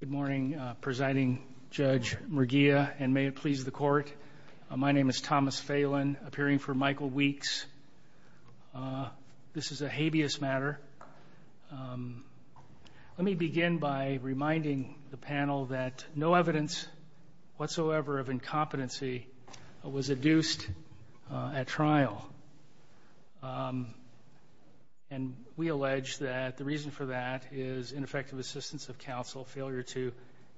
Good morning, Presiding Judge Murguia, and may it please the Court, my name is Thomas Phelan, appearing for Michael Weeks. This is a habeas matter. Let me begin by reminding the panel that no evidence whatsoever of incompetency was adduced at trial. And we allege that the reason for that is ineffective assistance of counsel, failure to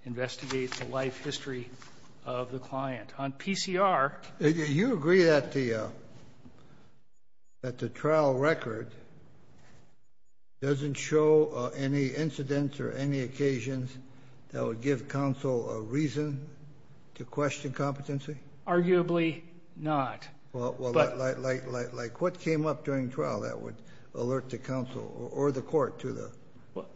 investigate the life history of the client. On PCR... Do you agree that the trial record doesn't show any incidents or any occasions that would give counsel a reason to question competency? Arguably not. Well, like what came up during trial that would alert the counsel or the court to the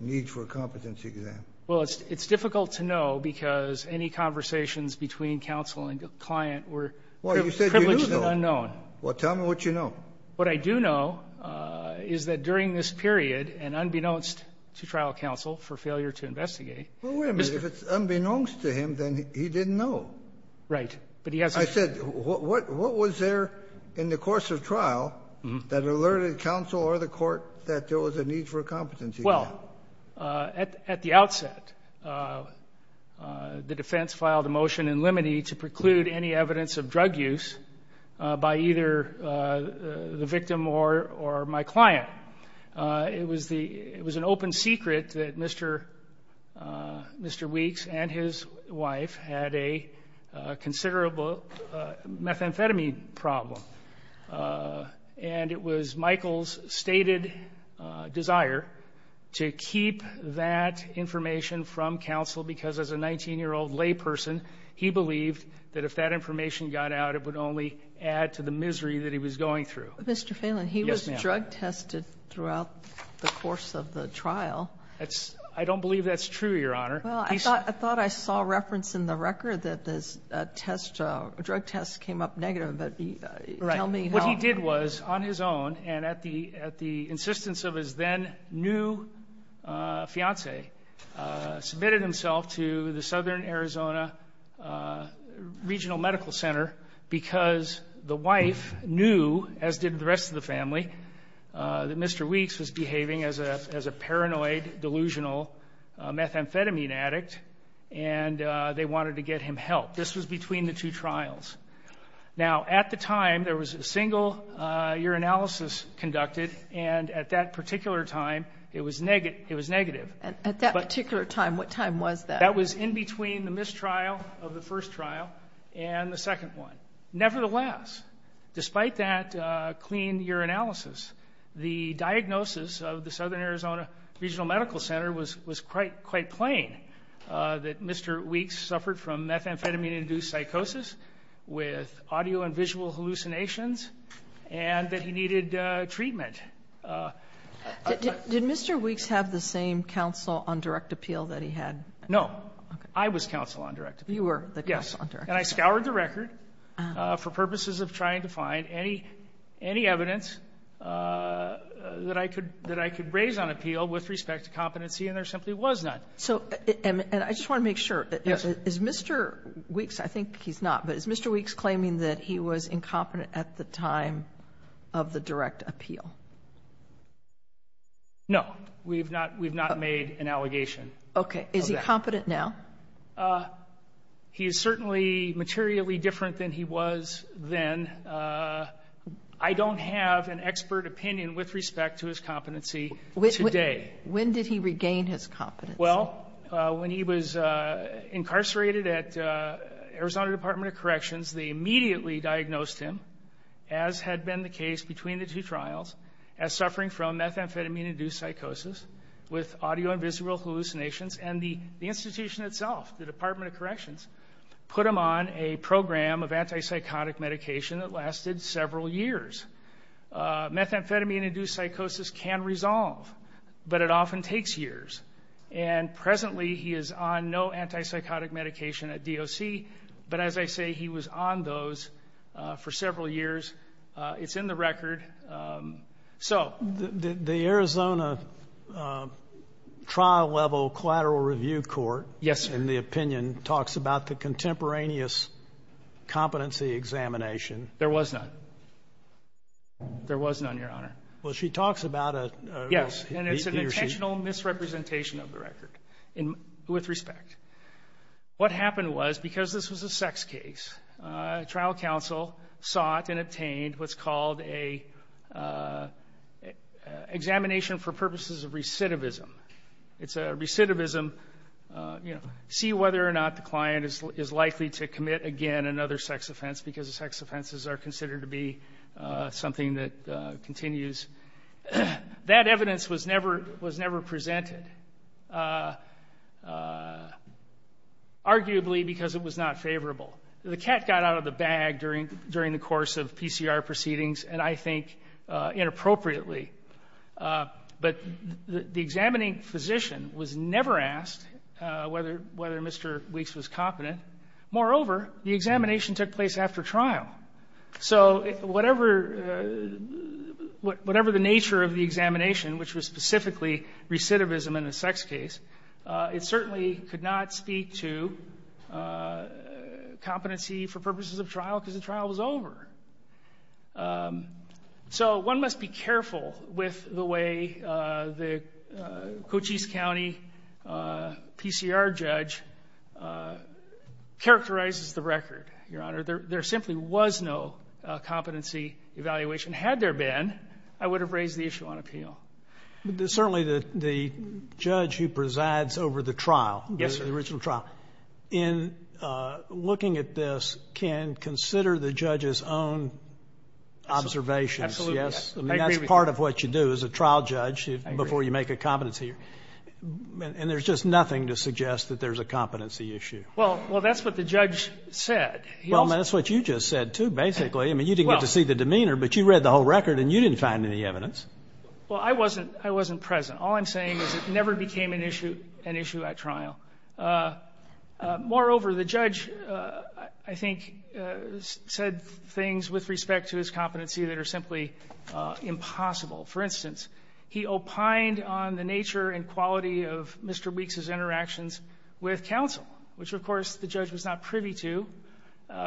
need for a competency exam? Well, it's difficult to know, because any conversations between counsel and the client were privileged and unknown. Well, you said you knew. Well, tell me what you know. What I do know is that during this period, and unbeknownst to trial counsel for failure to investigate... Well, wait a minute. If it's unbeknownst to him, then he didn't know. Right. I said, what was there in the course of trial that alerted counsel or the court that there was a need for a competency exam? Well, at the outset, the defense filed a motion in limine to preclude any evidence of drug use by either the victim or my client. It was an open secret that Mr. Weeks and his wife had a considerable methamphetamine problem. And it was Michael's stated desire to keep that information from counsel, because as a 19-year-old layperson, he believed that if that information got out, it would only add to the misery that he was going through. Mr. Phelan, he was drug-tested throughout the course of the trial. I don't believe that's true, Your Honor. Well, I thought I saw reference in the record that this drug test came up negative, but tell me how... Right. What he did was, on his own and at the insistence of his then-new fiancée, submitted himself to the Southern Arizona Regional Medical Center because the wife knew, as did the rest of the family, that Mr. Weeks was behaving as a paranoid, delusional methamphetamine addict, and they wanted to get him help. This was between the two trials. Now, at the time, there was a single urinalysis conducted, and at that particular time, it was negative. At that particular time, what time was that? That was in between the mistrial of the first trial and the second one. Nevertheless, despite that clean urinalysis, the diagnosis of the Southern Arizona Regional Medical Center was quite plain, that Mr. Weeks suffered from methamphetamine-induced psychosis with audio and visual hallucinations, and that he needed treatment. Did Mr. Weeks have the same counsel on direct appeal that he had? No. I was counsel on direct appeal. You were the counsel on direct appeal. Yes. And I scoured the record for purposes of trying to find any evidence that I could raise on appeal with respect to competency, and there simply was none. So and I just want to make sure. Yes. Is Mr. Weeks, I think he's not, but is Mr. Weeks claiming that he was incompetent at the time of the direct appeal? No. We've not made an allegation. Okay. Is he competent now? He is certainly materially different than he was then. I don't have an expert opinion with respect to his competency today. When did he regain his competency? Well, when he was incarcerated at Arizona Department of Corrections, they immediately diagnosed him, as had been the case between the two trials, as suffering from methamphetamine-induced psychosis with audio and visual hallucinations, and the institution itself, the Department of Corrections, put him on a program of antipsychotic medication that lasted several years. Methamphetamine-induced psychosis can resolve, but it often takes years. And presently he is on no antipsychotic medication at DOC, but as I say, he was on those for several years. It's in the record. So. The Arizona trial-level collateral review court. Yes, sir. In the opinion talks about the contemporaneous competency examination. There was none. There was none, Your Honor. Well, she talks about it. Yes, and it's an intentional misrepresentation of the record with respect. What happened was, because this was a sex case, trial counsel sought and obtained what's called an examination for purposes of recidivism. It's a recidivism, you know, see whether or not the client is likely to commit again another sex offense because the sex offenses are considered to be something that continues. That evidence was never presented, arguably because it was not favorable. The cat got out of the bag during the course of PCR proceedings, and I think inappropriately. But the examining physician was never asked whether Mr. Weeks was competent. Moreover, the examination took place after trial. So, whatever the nature of the examination, which was specifically recidivism in a sex case, it certainly could not speak to competency for purposes of trial because the trial was over. So, one must be careful with the way the Cochise County PCR judge characterizes the record, Your Honor. There simply was no competency evaluation. Had there been, I would have raised the issue on appeal. But certainly the judge who presides over the trial, the original trial, in looking at this can consider the judge's own observations. Yes. I agree with you. I mean, that's part of what you do as a trial judge before you make a competency error. And there's just nothing to suggest that there's a competency issue. Well, that's what the judge said. Well, that's what you just said, too, basically. I mean, you didn't get to see the demeanor, but you read the whole record and you didn't find any evidence. Well, I wasn't present. All I'm saying is it never became an issue at trial. Moreover, the judge, I think, said things with respect to his competency that are simply impossible. For instance, he opined on the nature and quality of Mr. Weeks's interactions with counsel, which, of course, the judge was not privy to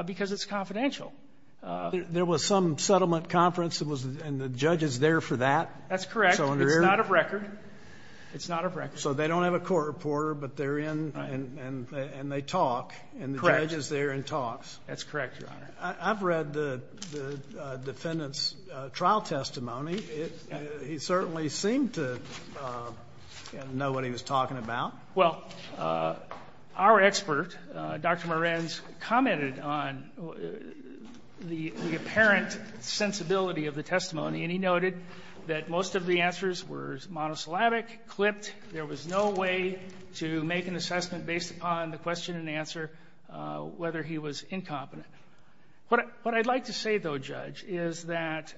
because it's confidential. There was some settlement conference and the judge is there for that. That's correct. It's not a record. It's not a record. So they don't have a court reporter, but they're in and they talk. Correct. And the judge is there and talks. That's correct, Your Honor. I've read the defendant's trial testimony. He certainly seemed to know what he was talking about. Well, our expert, Dr. Morens, commented on the apparent sensibility of the testimony, and he noted that most of the answers were monosyllabic, clipped. There was no way to make an assessment based upon the question and answer whether he was incompetent. What I'd like to say, though, Judge, is that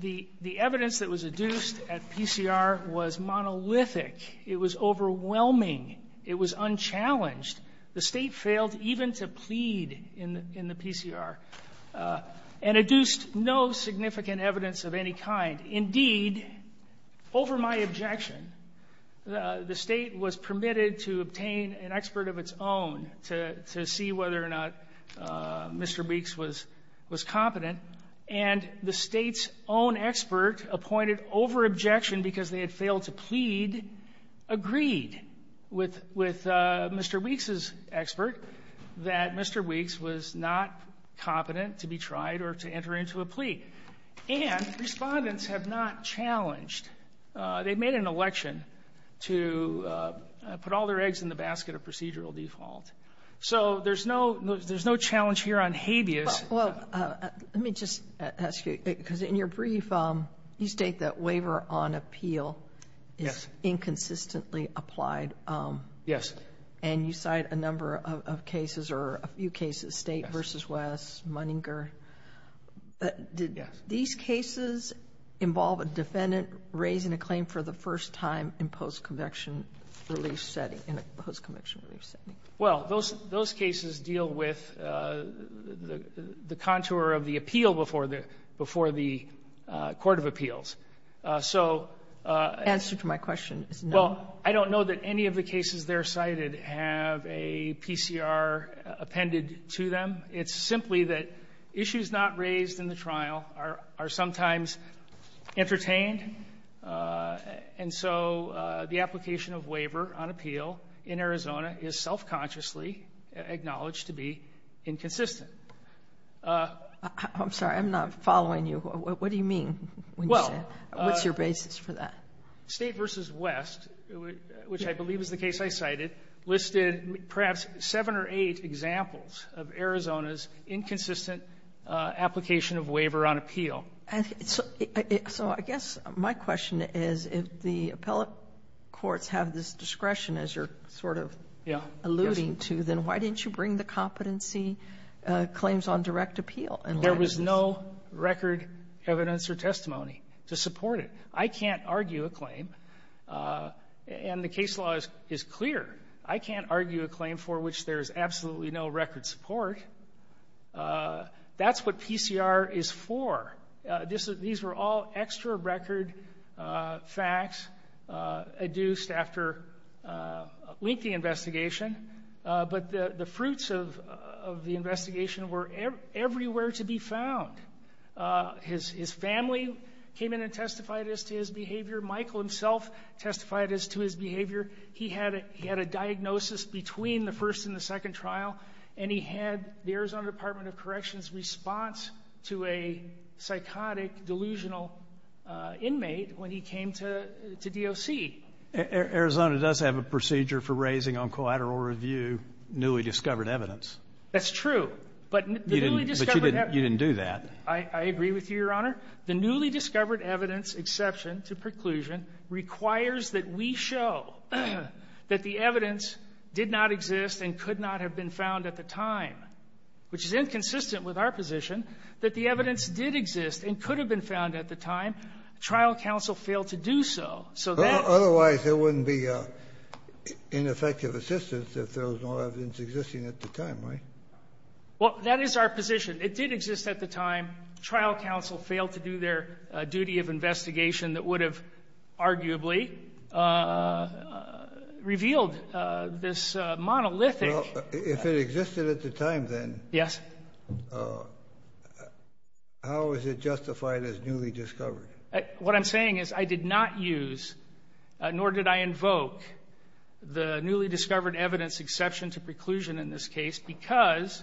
the evidence that was adduced at PCR was monolithic. It was overwhelming. It was unchallenged. The State failed even to plead in the PCR and adduced no significant evidence of any kind. Indeed, over my objection, the State was permitted to obtain an expert of its own to see whether or not Mr. Weeks was competent, and the State's own expert appointed over objection because they had failed to plead agreed with Mr. Weeks's expert that Mr. Weeks was not competent to be tried or to enter into a plea. And Respondents have not challenged. They made an election to put all their eggs in the basket of procedural default. So there's no challenge here on habeas. Well, let me just ask you, because in your brief, you state that waiver on appeal is inconsistently applied. Yes. And you cite a number of cases or a few cases, State v. West, Munninger. Yes. Did these cases involve a defendant raising a claim for the first time in post-convection relief setting, in a post-convection relief setting? Well, those cases deal with the contour of the appeal before the court of appeals. So the answer to my question is no. Well, I don't know that any of the cases there cited have a PCR appended to them. It's simply that issues not raised in the trial are sometimes entertained. And so the application of waiver on appeal in Arizona is self-consciously acknowledged to be inconsistent. I'm sorry. I'm not following you. What do you mean when you say what's your basis for that? Well, State v. West, which I believe is the case I cited, listed perhaps seven or eight examples of Arizona's inconsistent application of waiver on appeal. So I guess my question is, if the appellate courts have this discretion, as you're sort of alluding to, then why didn't you bring the competency claims on direct appeal? There was no record evidence or testimony to support it. I can't argue a claim. And the case law is clear. I can't argue a claim for which there is absolutely no record support. That's what PCR is for. These were all extra record facts adduced after lengthy investigation. But the fruits of the investigation were everywhere to be found. His family came in and testified as to his behavior. Michael himself testified as to his behavior. He had a diagnosis between the first and the second trial. And he had the Arizona Department of Corrections response to a psychotic, delusional inmate when he came to DOC. Arizona does have a procedure for raising on collateral review newly discovered evidence. That's true. But the newly discovered evidence But you didn't do that. I agree with you, Your Honor. The newly discovered evidence exception to preclusion requires that we show that the evidence did not exist and could not have been found at the time, which is inconsistent with our position, that the evidence did exist and could have been found at the time. Trial counsel failed to do so. So that otherwise there wouldn't be ineffective assistance if there was no evidence existing at the time, right? Well, that is our position. It did exist at the time. Trial counsel failed to do their duty of investigation that would have arguably revealed this monolithic. Well, if it existed at the time, then. Yes. How is it justified as newly discovered? What I'm saying is I did not use, nor did I invoke, the newly discovered evidence exception to preclusion in this case because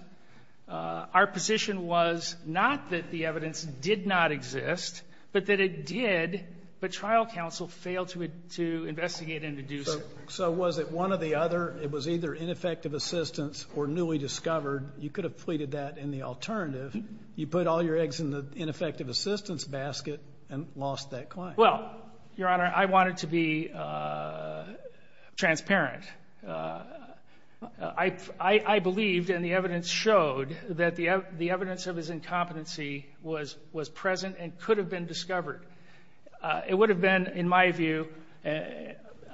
our position was not that the evidence did not exist, but that it did, but trial counsel failed to investigate and to do so. So was it one or the other? It was either ineffective assistance or newly discovered. You could have pleaded that in the alternative. You put all your eggs in the ineffective assistance basket and lost that claim. Well, Your Honor, I wanted to be transparent. I believed and the evidence showed that the evidence of his incompetency was present and could have been discovered. It would have been, in my view,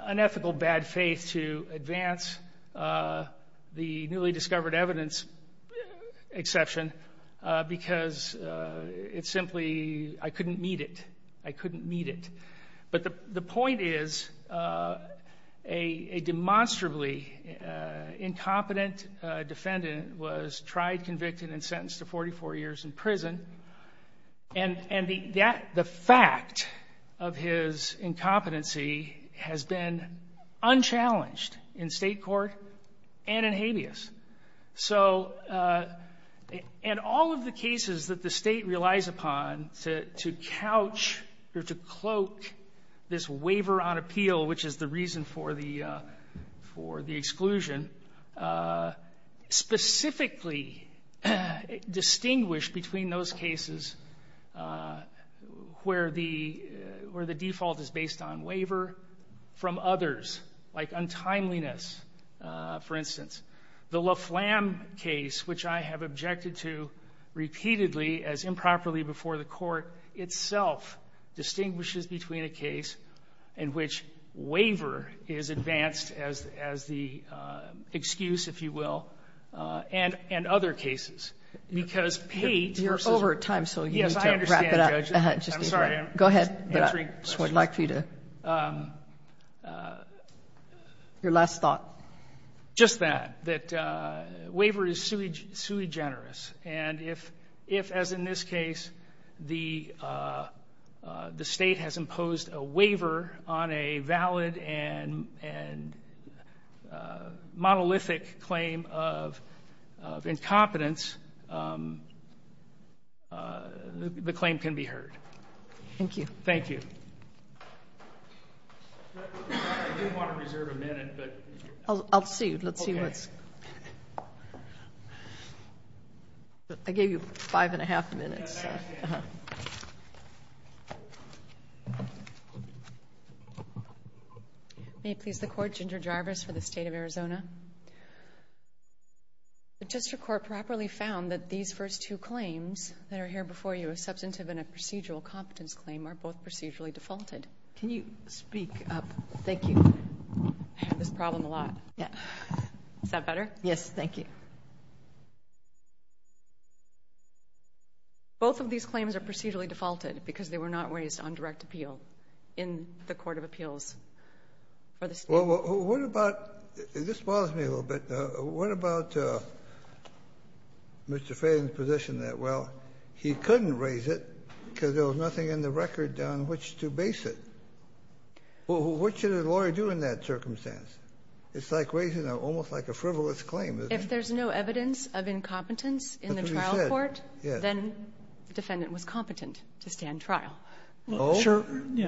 unethical bad faith to advance the newly discovered evidence exception because it simply, I couldn't meet it. I couldn't meet it. But the point is a demonstrably incompetent defendant was tried, convicted, and sentenced to 44 years in prison. And the fact of his incompetency has been unchallenged in state court and in habeas. So in all of the cases that the state relies upon to couch or to cloak this waiver on appeal, which is the reason for the exclusion, specifically distinguish between those cases where the default is based on waiver from others, like untimeliness, for instance. The Laflamme case, which I have objected to repeatedly as improperly before the Court, itself distinguishes between a case in which waiver is advanced as the excuse, if you will, and other cases. Because Pate versus ---- You're over time, so you need to wrap it up. Yes, I understand, Judge. I'm sorry. Go ahead. I just would like for you to ---- Your last thought. Just that, that waiver is sui generis. And if, as in this case, the State has imposed a waiver on a valid and monolithic claim of incompetence, the claim can be heard. Thank you. Thank you. I do want to reserve a minute, but ---- I'll see. Let's see what's ---- Okay. I gave you five and a half minutes. May it please the Court? Ginger Jarvis for the State of Arizona. The District Court properly found that these first two claims that are here before you, a substantive and a procedural competence claim, are both procedurally defaulted. Can you speak up? Thank you. I have this problem a lot. Is that better? Yes, thank you. Both of these claims are procedurally defaulted because they were not raised on direct appeal in the court of appeals for the State. Well, what about ---- this bothers me a little bit. What about Mr. Faden's position that, well, he couldn't raise it because there was nothing in the record on which to base it? Well, what should a lawyer do in that circumstance? It's like raising almost like a frivolous claim, isn't it? If there's no evidence of incompetence in the trial court, then the defendant was competent to stand trial. Oh,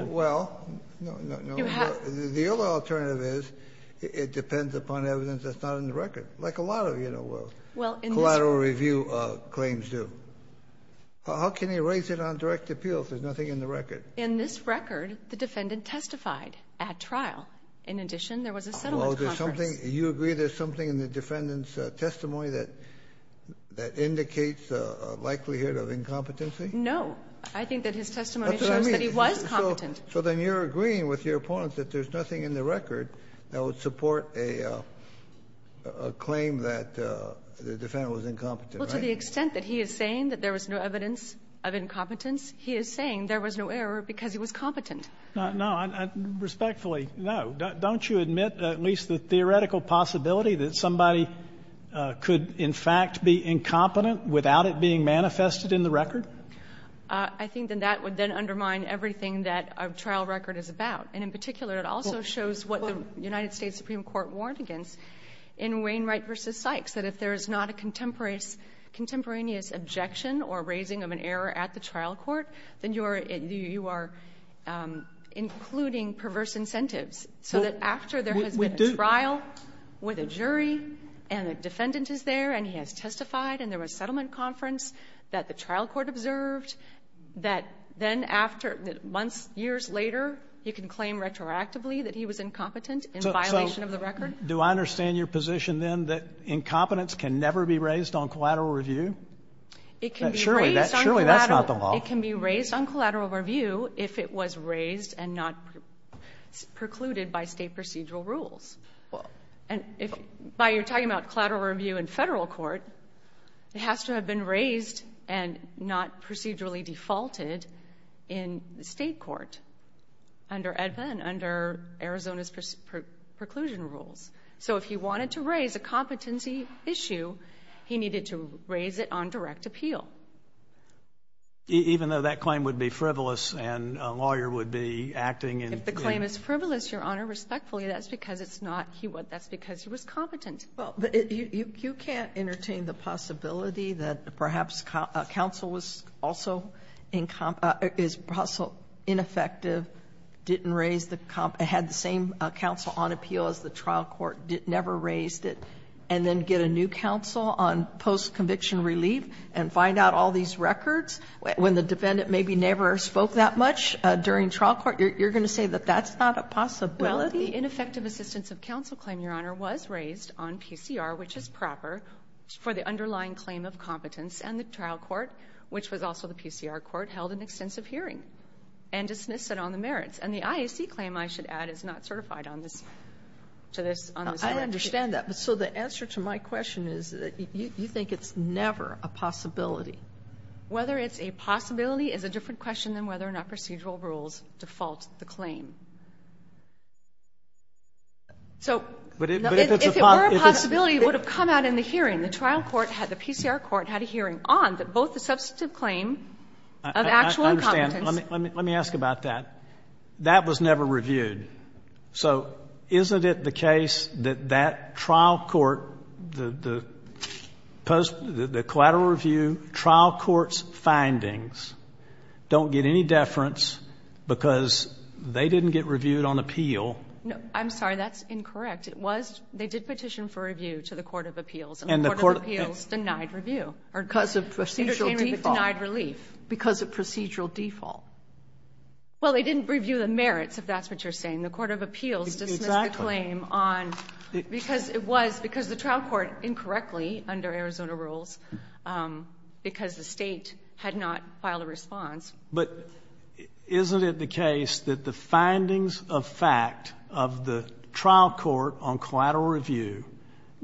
well, no, no, no. It depends upon evidence that's not in the record, like a lot of, you know, collateral review claims do. How can he raise it on direct appeal if there's nothing in the record? In this record, the defendant testified at trial. In addition, there was a settlement conference. Well, there's something ---- you agree there's something in the defendant's testimony that indicates a likelihood of incompetency? No. I think that his testimony shows that he was competent. So then you're agreeing with your opponents that there's nothing in the record that would support a claim that the defendant was incompetent, right? Well, to the extent that he is saying that there was no evidence of incompetence, he is saying there was no error because he was competent. No, respectfully, no. Don't you admit at least the theoretical possibility that somebody could in fact be incompetent without it being manifested in the record? I think that that would then undermine everything that a trial record is about. And in particular, it also shows what the United States Supreme Court warned against in Wainwright v. Sykes, that if there is not a contemporaneous objection or raising of an error at the trial court, then you are including perverse incentives. So that after there has been a trial with a jury and a defendant is there and he has been observed, that then after months, years later, you can claim retroactively that he was incompetent in violation of the record? So do I understand your position, then, that incompetence can never be raised on collateral It can be raised on collateral. Surely, that's not the law. It can be raised on collateral review if it was raised and not precluded by State procedural rules. And if by you're talking about collateral review in Federal court, it has to have been raised and not procedurally defaulted in the State court under AEDPA and under Arizona's preclusion rules. So if he wanted to raise a competency issue, he needed to raise it on direct appeal. Even though that claim would be frivolous and a lawyer would be acting in If the claim is frivolous, Your Honor, respectfully, that's because it's not, that's because he was competent. Well, but you can't entertain the possibility that perhaps counsel was also incompetent or is also ineffective, didn't raise the, had the same counsel on appeal as the trial court, never raised it, and then get a new counsel on post-conviction relief and find out all these records when the defendant maybe never spoke that much during trial court? You're going to say that that's not a possibility? Well, the ineffective assistance of counsel claim, Your Honor, was raised on PCR, which is proper for the underlying claim of competence, and the trial court, which was also the PCR court, held an extensive hearing and dismissed it on the merits. And the IAC claim, I should add, is not certified on this, to this, on this record. Now, I understand that, but so the answer to my question is that you think it's never a possibility. Whether it's a possibility is a different question than whether or not procedural rules default the claim. So if it were a possibility, it would have come out in the hearing. The trial court had, the PCR court had a hearing on both the substantive claim of actual incompetence. I understand. Let me ask about that. That was never reviewed. So isn't it the case that that trial court, the post, the collateral review trial court's findings don't get any deference because they didn't get reviewed on appeal? I'm sorry, that's incorrect. It was, they did petition for review to the court of appeals. And the court of appeals denied review. Or because of procedural default. Denied relief. Because of procedural default. Well, they didn't review the merits, if that's what you're saying. The court of appeals dismissed the claim on, because it was, because the trial court didn't report incorrectly under Arizona rules, because the State had not filed a response. But isn't it the case that the findings of fact of the trial court on collateral review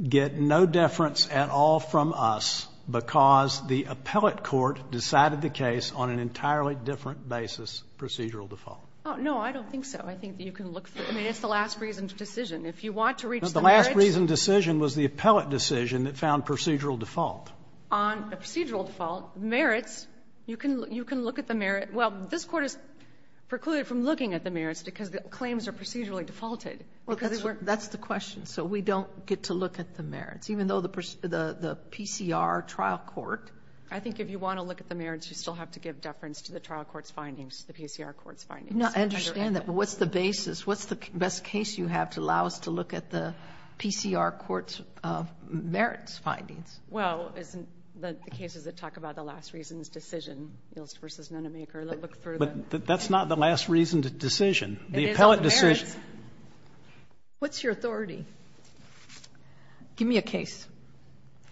get no deference at all from us because the appellate court decided the case on an entirely different basis, procedural default? No, I don't think so. I think that you can look through. I mean, it's the last reason to decision. If you want to reach the merits No, the last reason decision was the appellate court made a decision that found procedural default. On a procedural default, merits, you can look at the merits. Well, this Court is precluded from looking at the merits because the claims are procedurally defaulted. Well, that's the question. So we don't get to look at the merits, even though the PCR trial court. I think if you want to look at the merits, you still have to give deference to the trial court's findings, the PCR court's findings. No, I understand that, but what's the basis? You have to allow us to look at the PCR court's merits findings. Well, isn't the cases that talk about the last reason's decision, Ilst v. Nenemaker, look through the But that's not the last reason to decision. The appellate decision It is on the merits. What's your authority? Give me a case.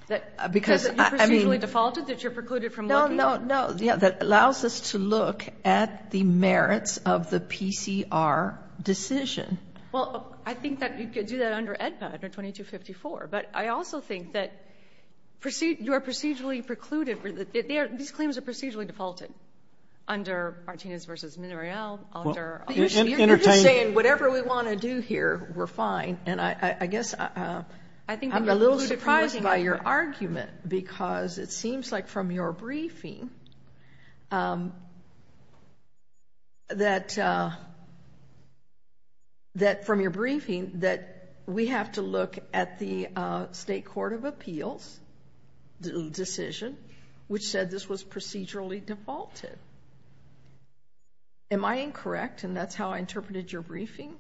Because, I mean Because you procedurally defaulted, that you're precluded from looking? No, no, no. That allows us to look at the merits of the PCR decision. Well, I think that you could do that under AEDPA, under 2254. But I also think that you are procedurally precluded. These claims are procedurally defaulted under Martinez v. Monreal, under You're just saying whatever we want to do here, we're fine. And I guess I'm a little surprised by your argument, because it seems like from your briefing, that we have to look at the State Court of Appeals decision, which said this was procedurally defaulted. Am I incorrect, and that's how I interpreted your briefing?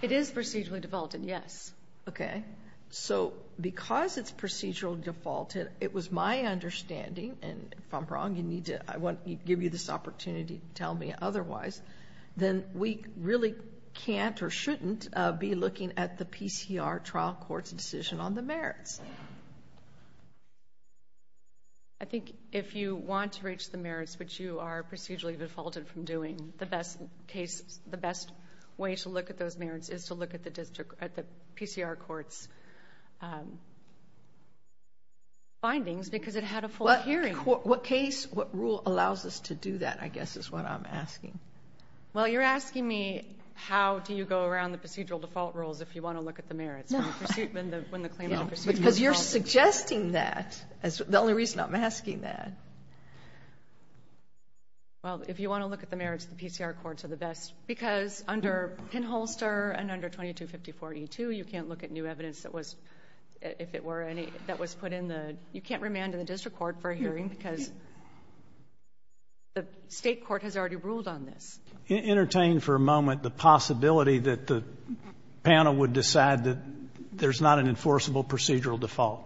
It is procedurally defaulted, yes. Okay. So, because it's procedurally defaulted, it was my understanding, and if I'm wrong, you need to, I want to give you this opportunity to tell me otherwise, then we really can't or shouldn't be looking at the PCR trial court's decision on the merits. I think if you want to reach the merits, which you are procedurally defaulted from doing, the best case, the best way to look at those merits is to look at the district, at the PCR court's findings, because it had a full hearing. What case, what rule allows us to do that, I guess, is what I'm asking. Well, you're asking me how do you go around the procedural default rules if you want to look at the merits, when the claimant is procedurally defaulted. Because you're suggesting that, that's the only reason I'm asking that. Well, if you want to look at the merits, the PCR courts are the best, because under Penholster and under 2254E2, you can't look at new evidence that was, if it were any, that was put in the, you can't remand in the district court for a hearing, because the state court has already ruled on this. Entertain for a moment the possibility that the panel would decide that there's not an enforceable procedural default.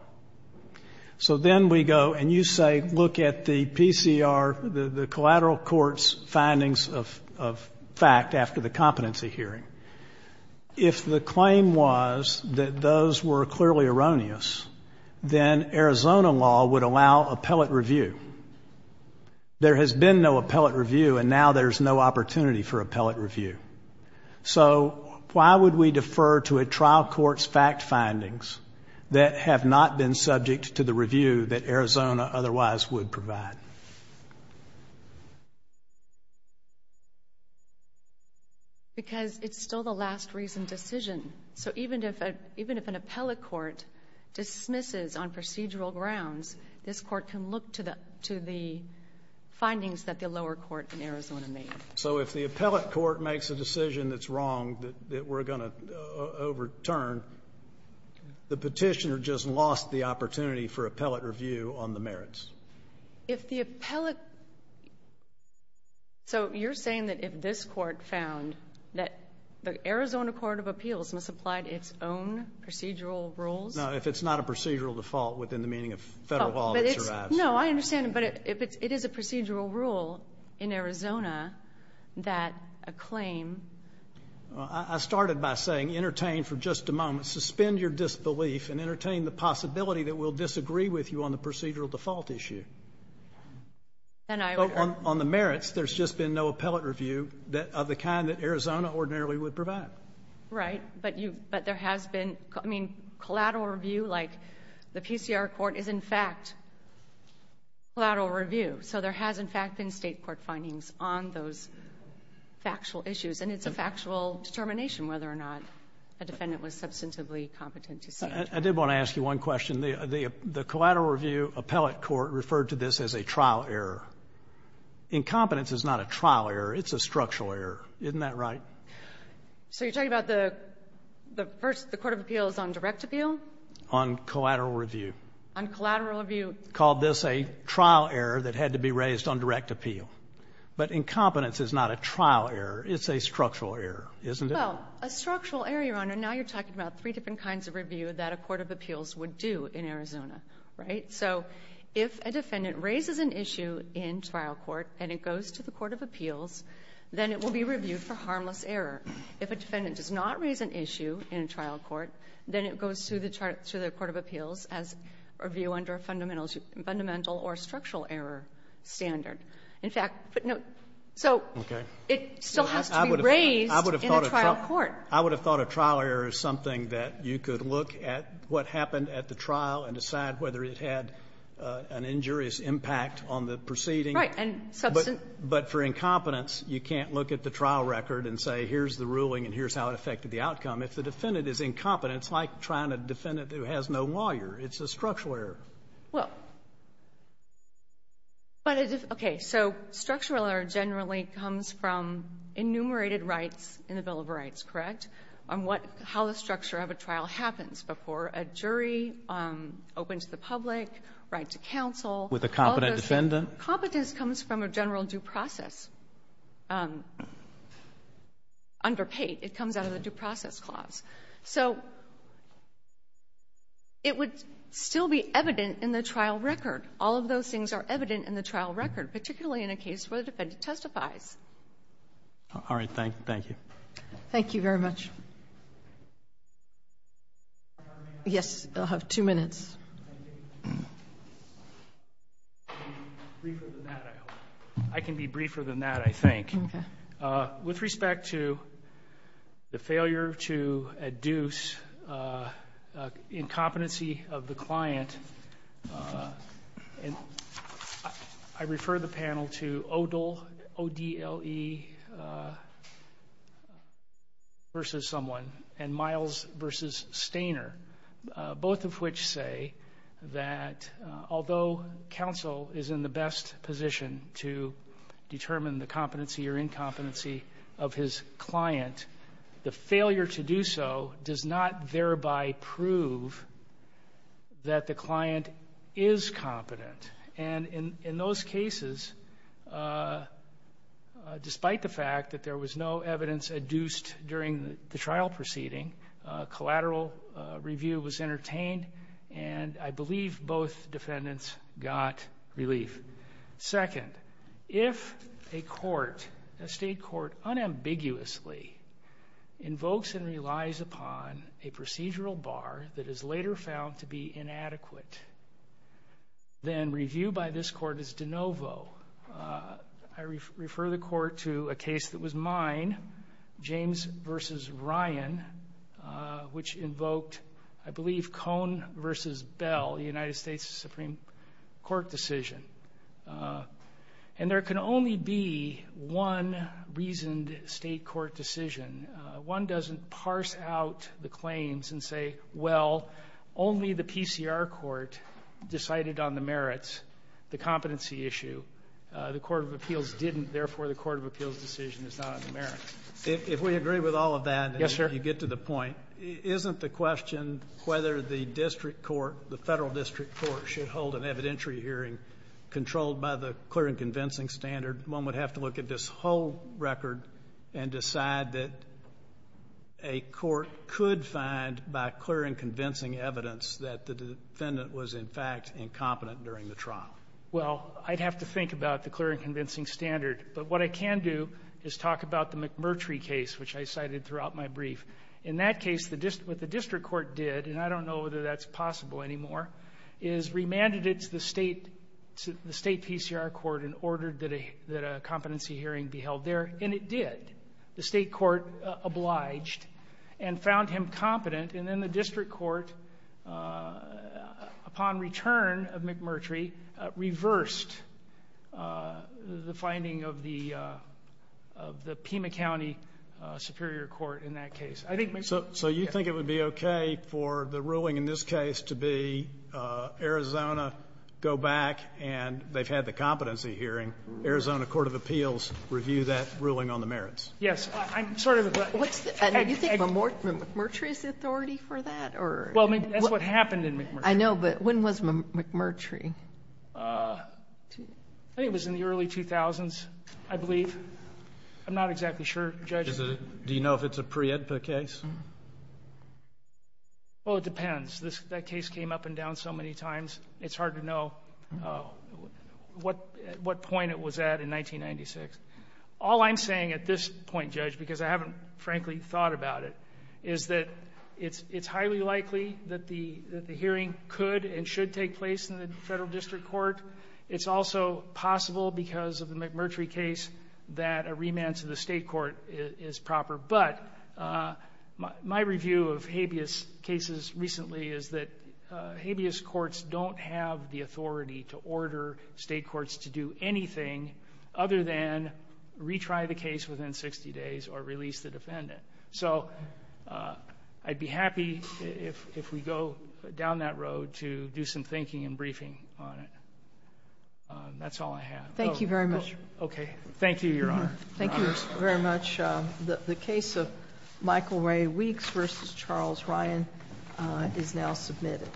So then we go, and you say, look at the PCR, the collateral court's findings of fact after the competency hearing. If the claim was that those were clearly erroneous, then Arizona law would allow appellate review. There has been no appellate review, and now there's no opportunity for appellate review. So, why would we defer to a trial court's fact findings that have not been subject to the review that Arizona otherwise would provide? Because it's still the last reason decision. So even if an appellate court dismisses on procedural grounds, this court can look to the findings that the lower court in Arizona made. So if the appellate court makes a decision that's wrong, that we're going to overturn, the petitioner just lost the opportunity for appellate review on the merits. If the appellate, so you're saying that if this court found that the Arizona Court of Appeals must apply to its own procedural rules? No, if it's not a procedural default within the meaning of federal law, it survives. No, I understand, but if it is a procedural rule in Arizona that a claim I started by saying, entertain for just a moment, suspend your disbelief and entertain the possibility that we'll disagree with you on the procedural default issue. Then I would On the merits, there's just been no appellate review of the kind that Arizona ordinarily would provide. Right, but there has been, I mean, collateral review, like the PCR court is, in fact, collateral review. So there has, in fact, been State court findings on those factual issues. And it's a factual determination whether or not a defendant was substantively competent to see it. I did want to ask you one question. The collateral review appellate court referred to this as a trial error. Incompetence is not a trial error. It's a structural error. Isn't that right? So you're talking about the first, the Court of Appeals on direct appeal? On collateral review. On collateral review. Called this a trial error that had to be raised on direct appeal. But incompetence is not a trial error. It's a structural error, isn't it? Well, a structural error, Your Honor. Now you're talking about three different kinds of review that a court of appeals would do in Arizona, right? So if a defendant raises an issue in trial court and it goes to the court of appeals, then it will be reviewed for harmless error. If a defendant does not raise an issue in trial court, then it goes to the court of appeals as a review under a fundamental or structural error standard. In fact, so it still has to be raised in a trial court. I would have thought a trial error is something that you could look at what happened at the trial and decide whether it had an injurious impact on the proceeding. Right. But for incompetence, you can't look at the trial record and say, here's the ruling and here's how it affected the outcome. If the defendant is incompetent, it's like trying to defend a defendant who has no lawyer. It's a structural error. Well, but it is okay. So structural error generally comes from enumerated rights in the Bill of Rights, correct, on what, how the structure of a trial happens before a jury opens to the public, right to counsel. With a competent defendant. Competence comes from a general due process. Under Pate, it comes out of the due process clause. So it would still be evident in the trial record. All of those things are evident in the trial record, particularly in a case where the defendant testifies. All right. Thank you. Thank you very much. Yes, you'll have two minutes. I can be briefer than that, I hope. I can be briefer than that, I think. With respect to the failure to adduce incompetency of the client, I refer the panel to ODLE versus someone and Miles versus Stainer, both of which say that although counsel is in the best position to determine the competency or incompetency of his client, the failure to do so does not thereby prove that the client is competent. And in those cases, despite the fact that there was no evidence adduced during the trial proceeding, collateral review was entertained, and I believe both defendants got relief. Second, if a court, a state court, unambiguously invokes and relies upon a procedural bar that is later found to be inadequate, then review by this court is de novo. I refer the court to a case that was mine, James versus Ryan, which invoked, I believe, Cohn versus Bell, the United States Supreme Court decision. And there can only be one reasoned state court decision. One doesn't parse out the claims and say, well, only the PCR court decided on the merits, the competency issue. The court of appeals didn't, therefore the court of appeals decision is not on the merits. If we agree with all of that and you get to the point, isn't the question whether the district court, the Federal district court, should hold an evidentiary hearing controlled by the clear and convincing standard? One would have to look at this whole record and decide that a court could find by clear and convincing evidence that the defendant was, in fact, incompetent during the trial. Well, I'd have to think about the clear and convincing standard. But what I can do is talk about the McMurtry case, which I cited throughout my brief. In that case, what the district court did, and I don't know whether that's possible anymore, is remanded it to the state PCR court and ordered that a competency hearing be held there. And it did. The state court obliged and found him competent. And then the district court, upon return of McMurtry, reversed the finding of the Pima County Superior Court in that case. So you think it would be okay for the ruling in this case to be Arizona, go back, and they've had the competency hearing, Arizona Court of Appeals review that ruling on the merits? Yes. I'm sort of agree. Do you think McMurtry is the authority for that, or? Well, I mean, that's what happened in McMurtry. I know, but when was McMurtry? I think it was in the early 2000s, I believe. I'm not exactly sure, Judge. Do you know if it's a pre-EDPA case? Well, it depends. That case came up and down so many times, it's hard to know what point it was at in 1996. All I'm saying at this point, Judge, because I haven't frankly thought about it, is that it's highly likely that the hearing could and should take place in the federal district court. It's also possible because of the McMurtry case that a remand to the state court is proper. But my review of habeas cases recently is that habeas courts don't have the authority to order state courts to do anything other than retry the case within 60 days or release the defendant. So I'd be happy if we go down that road to do some thinking and briefing on it. That's all I have. Thank you very much. Okay. Thank you, Your Honor. Thank you very much. The case of Michael Ray Weeks versus Charles Ryan is now submitted.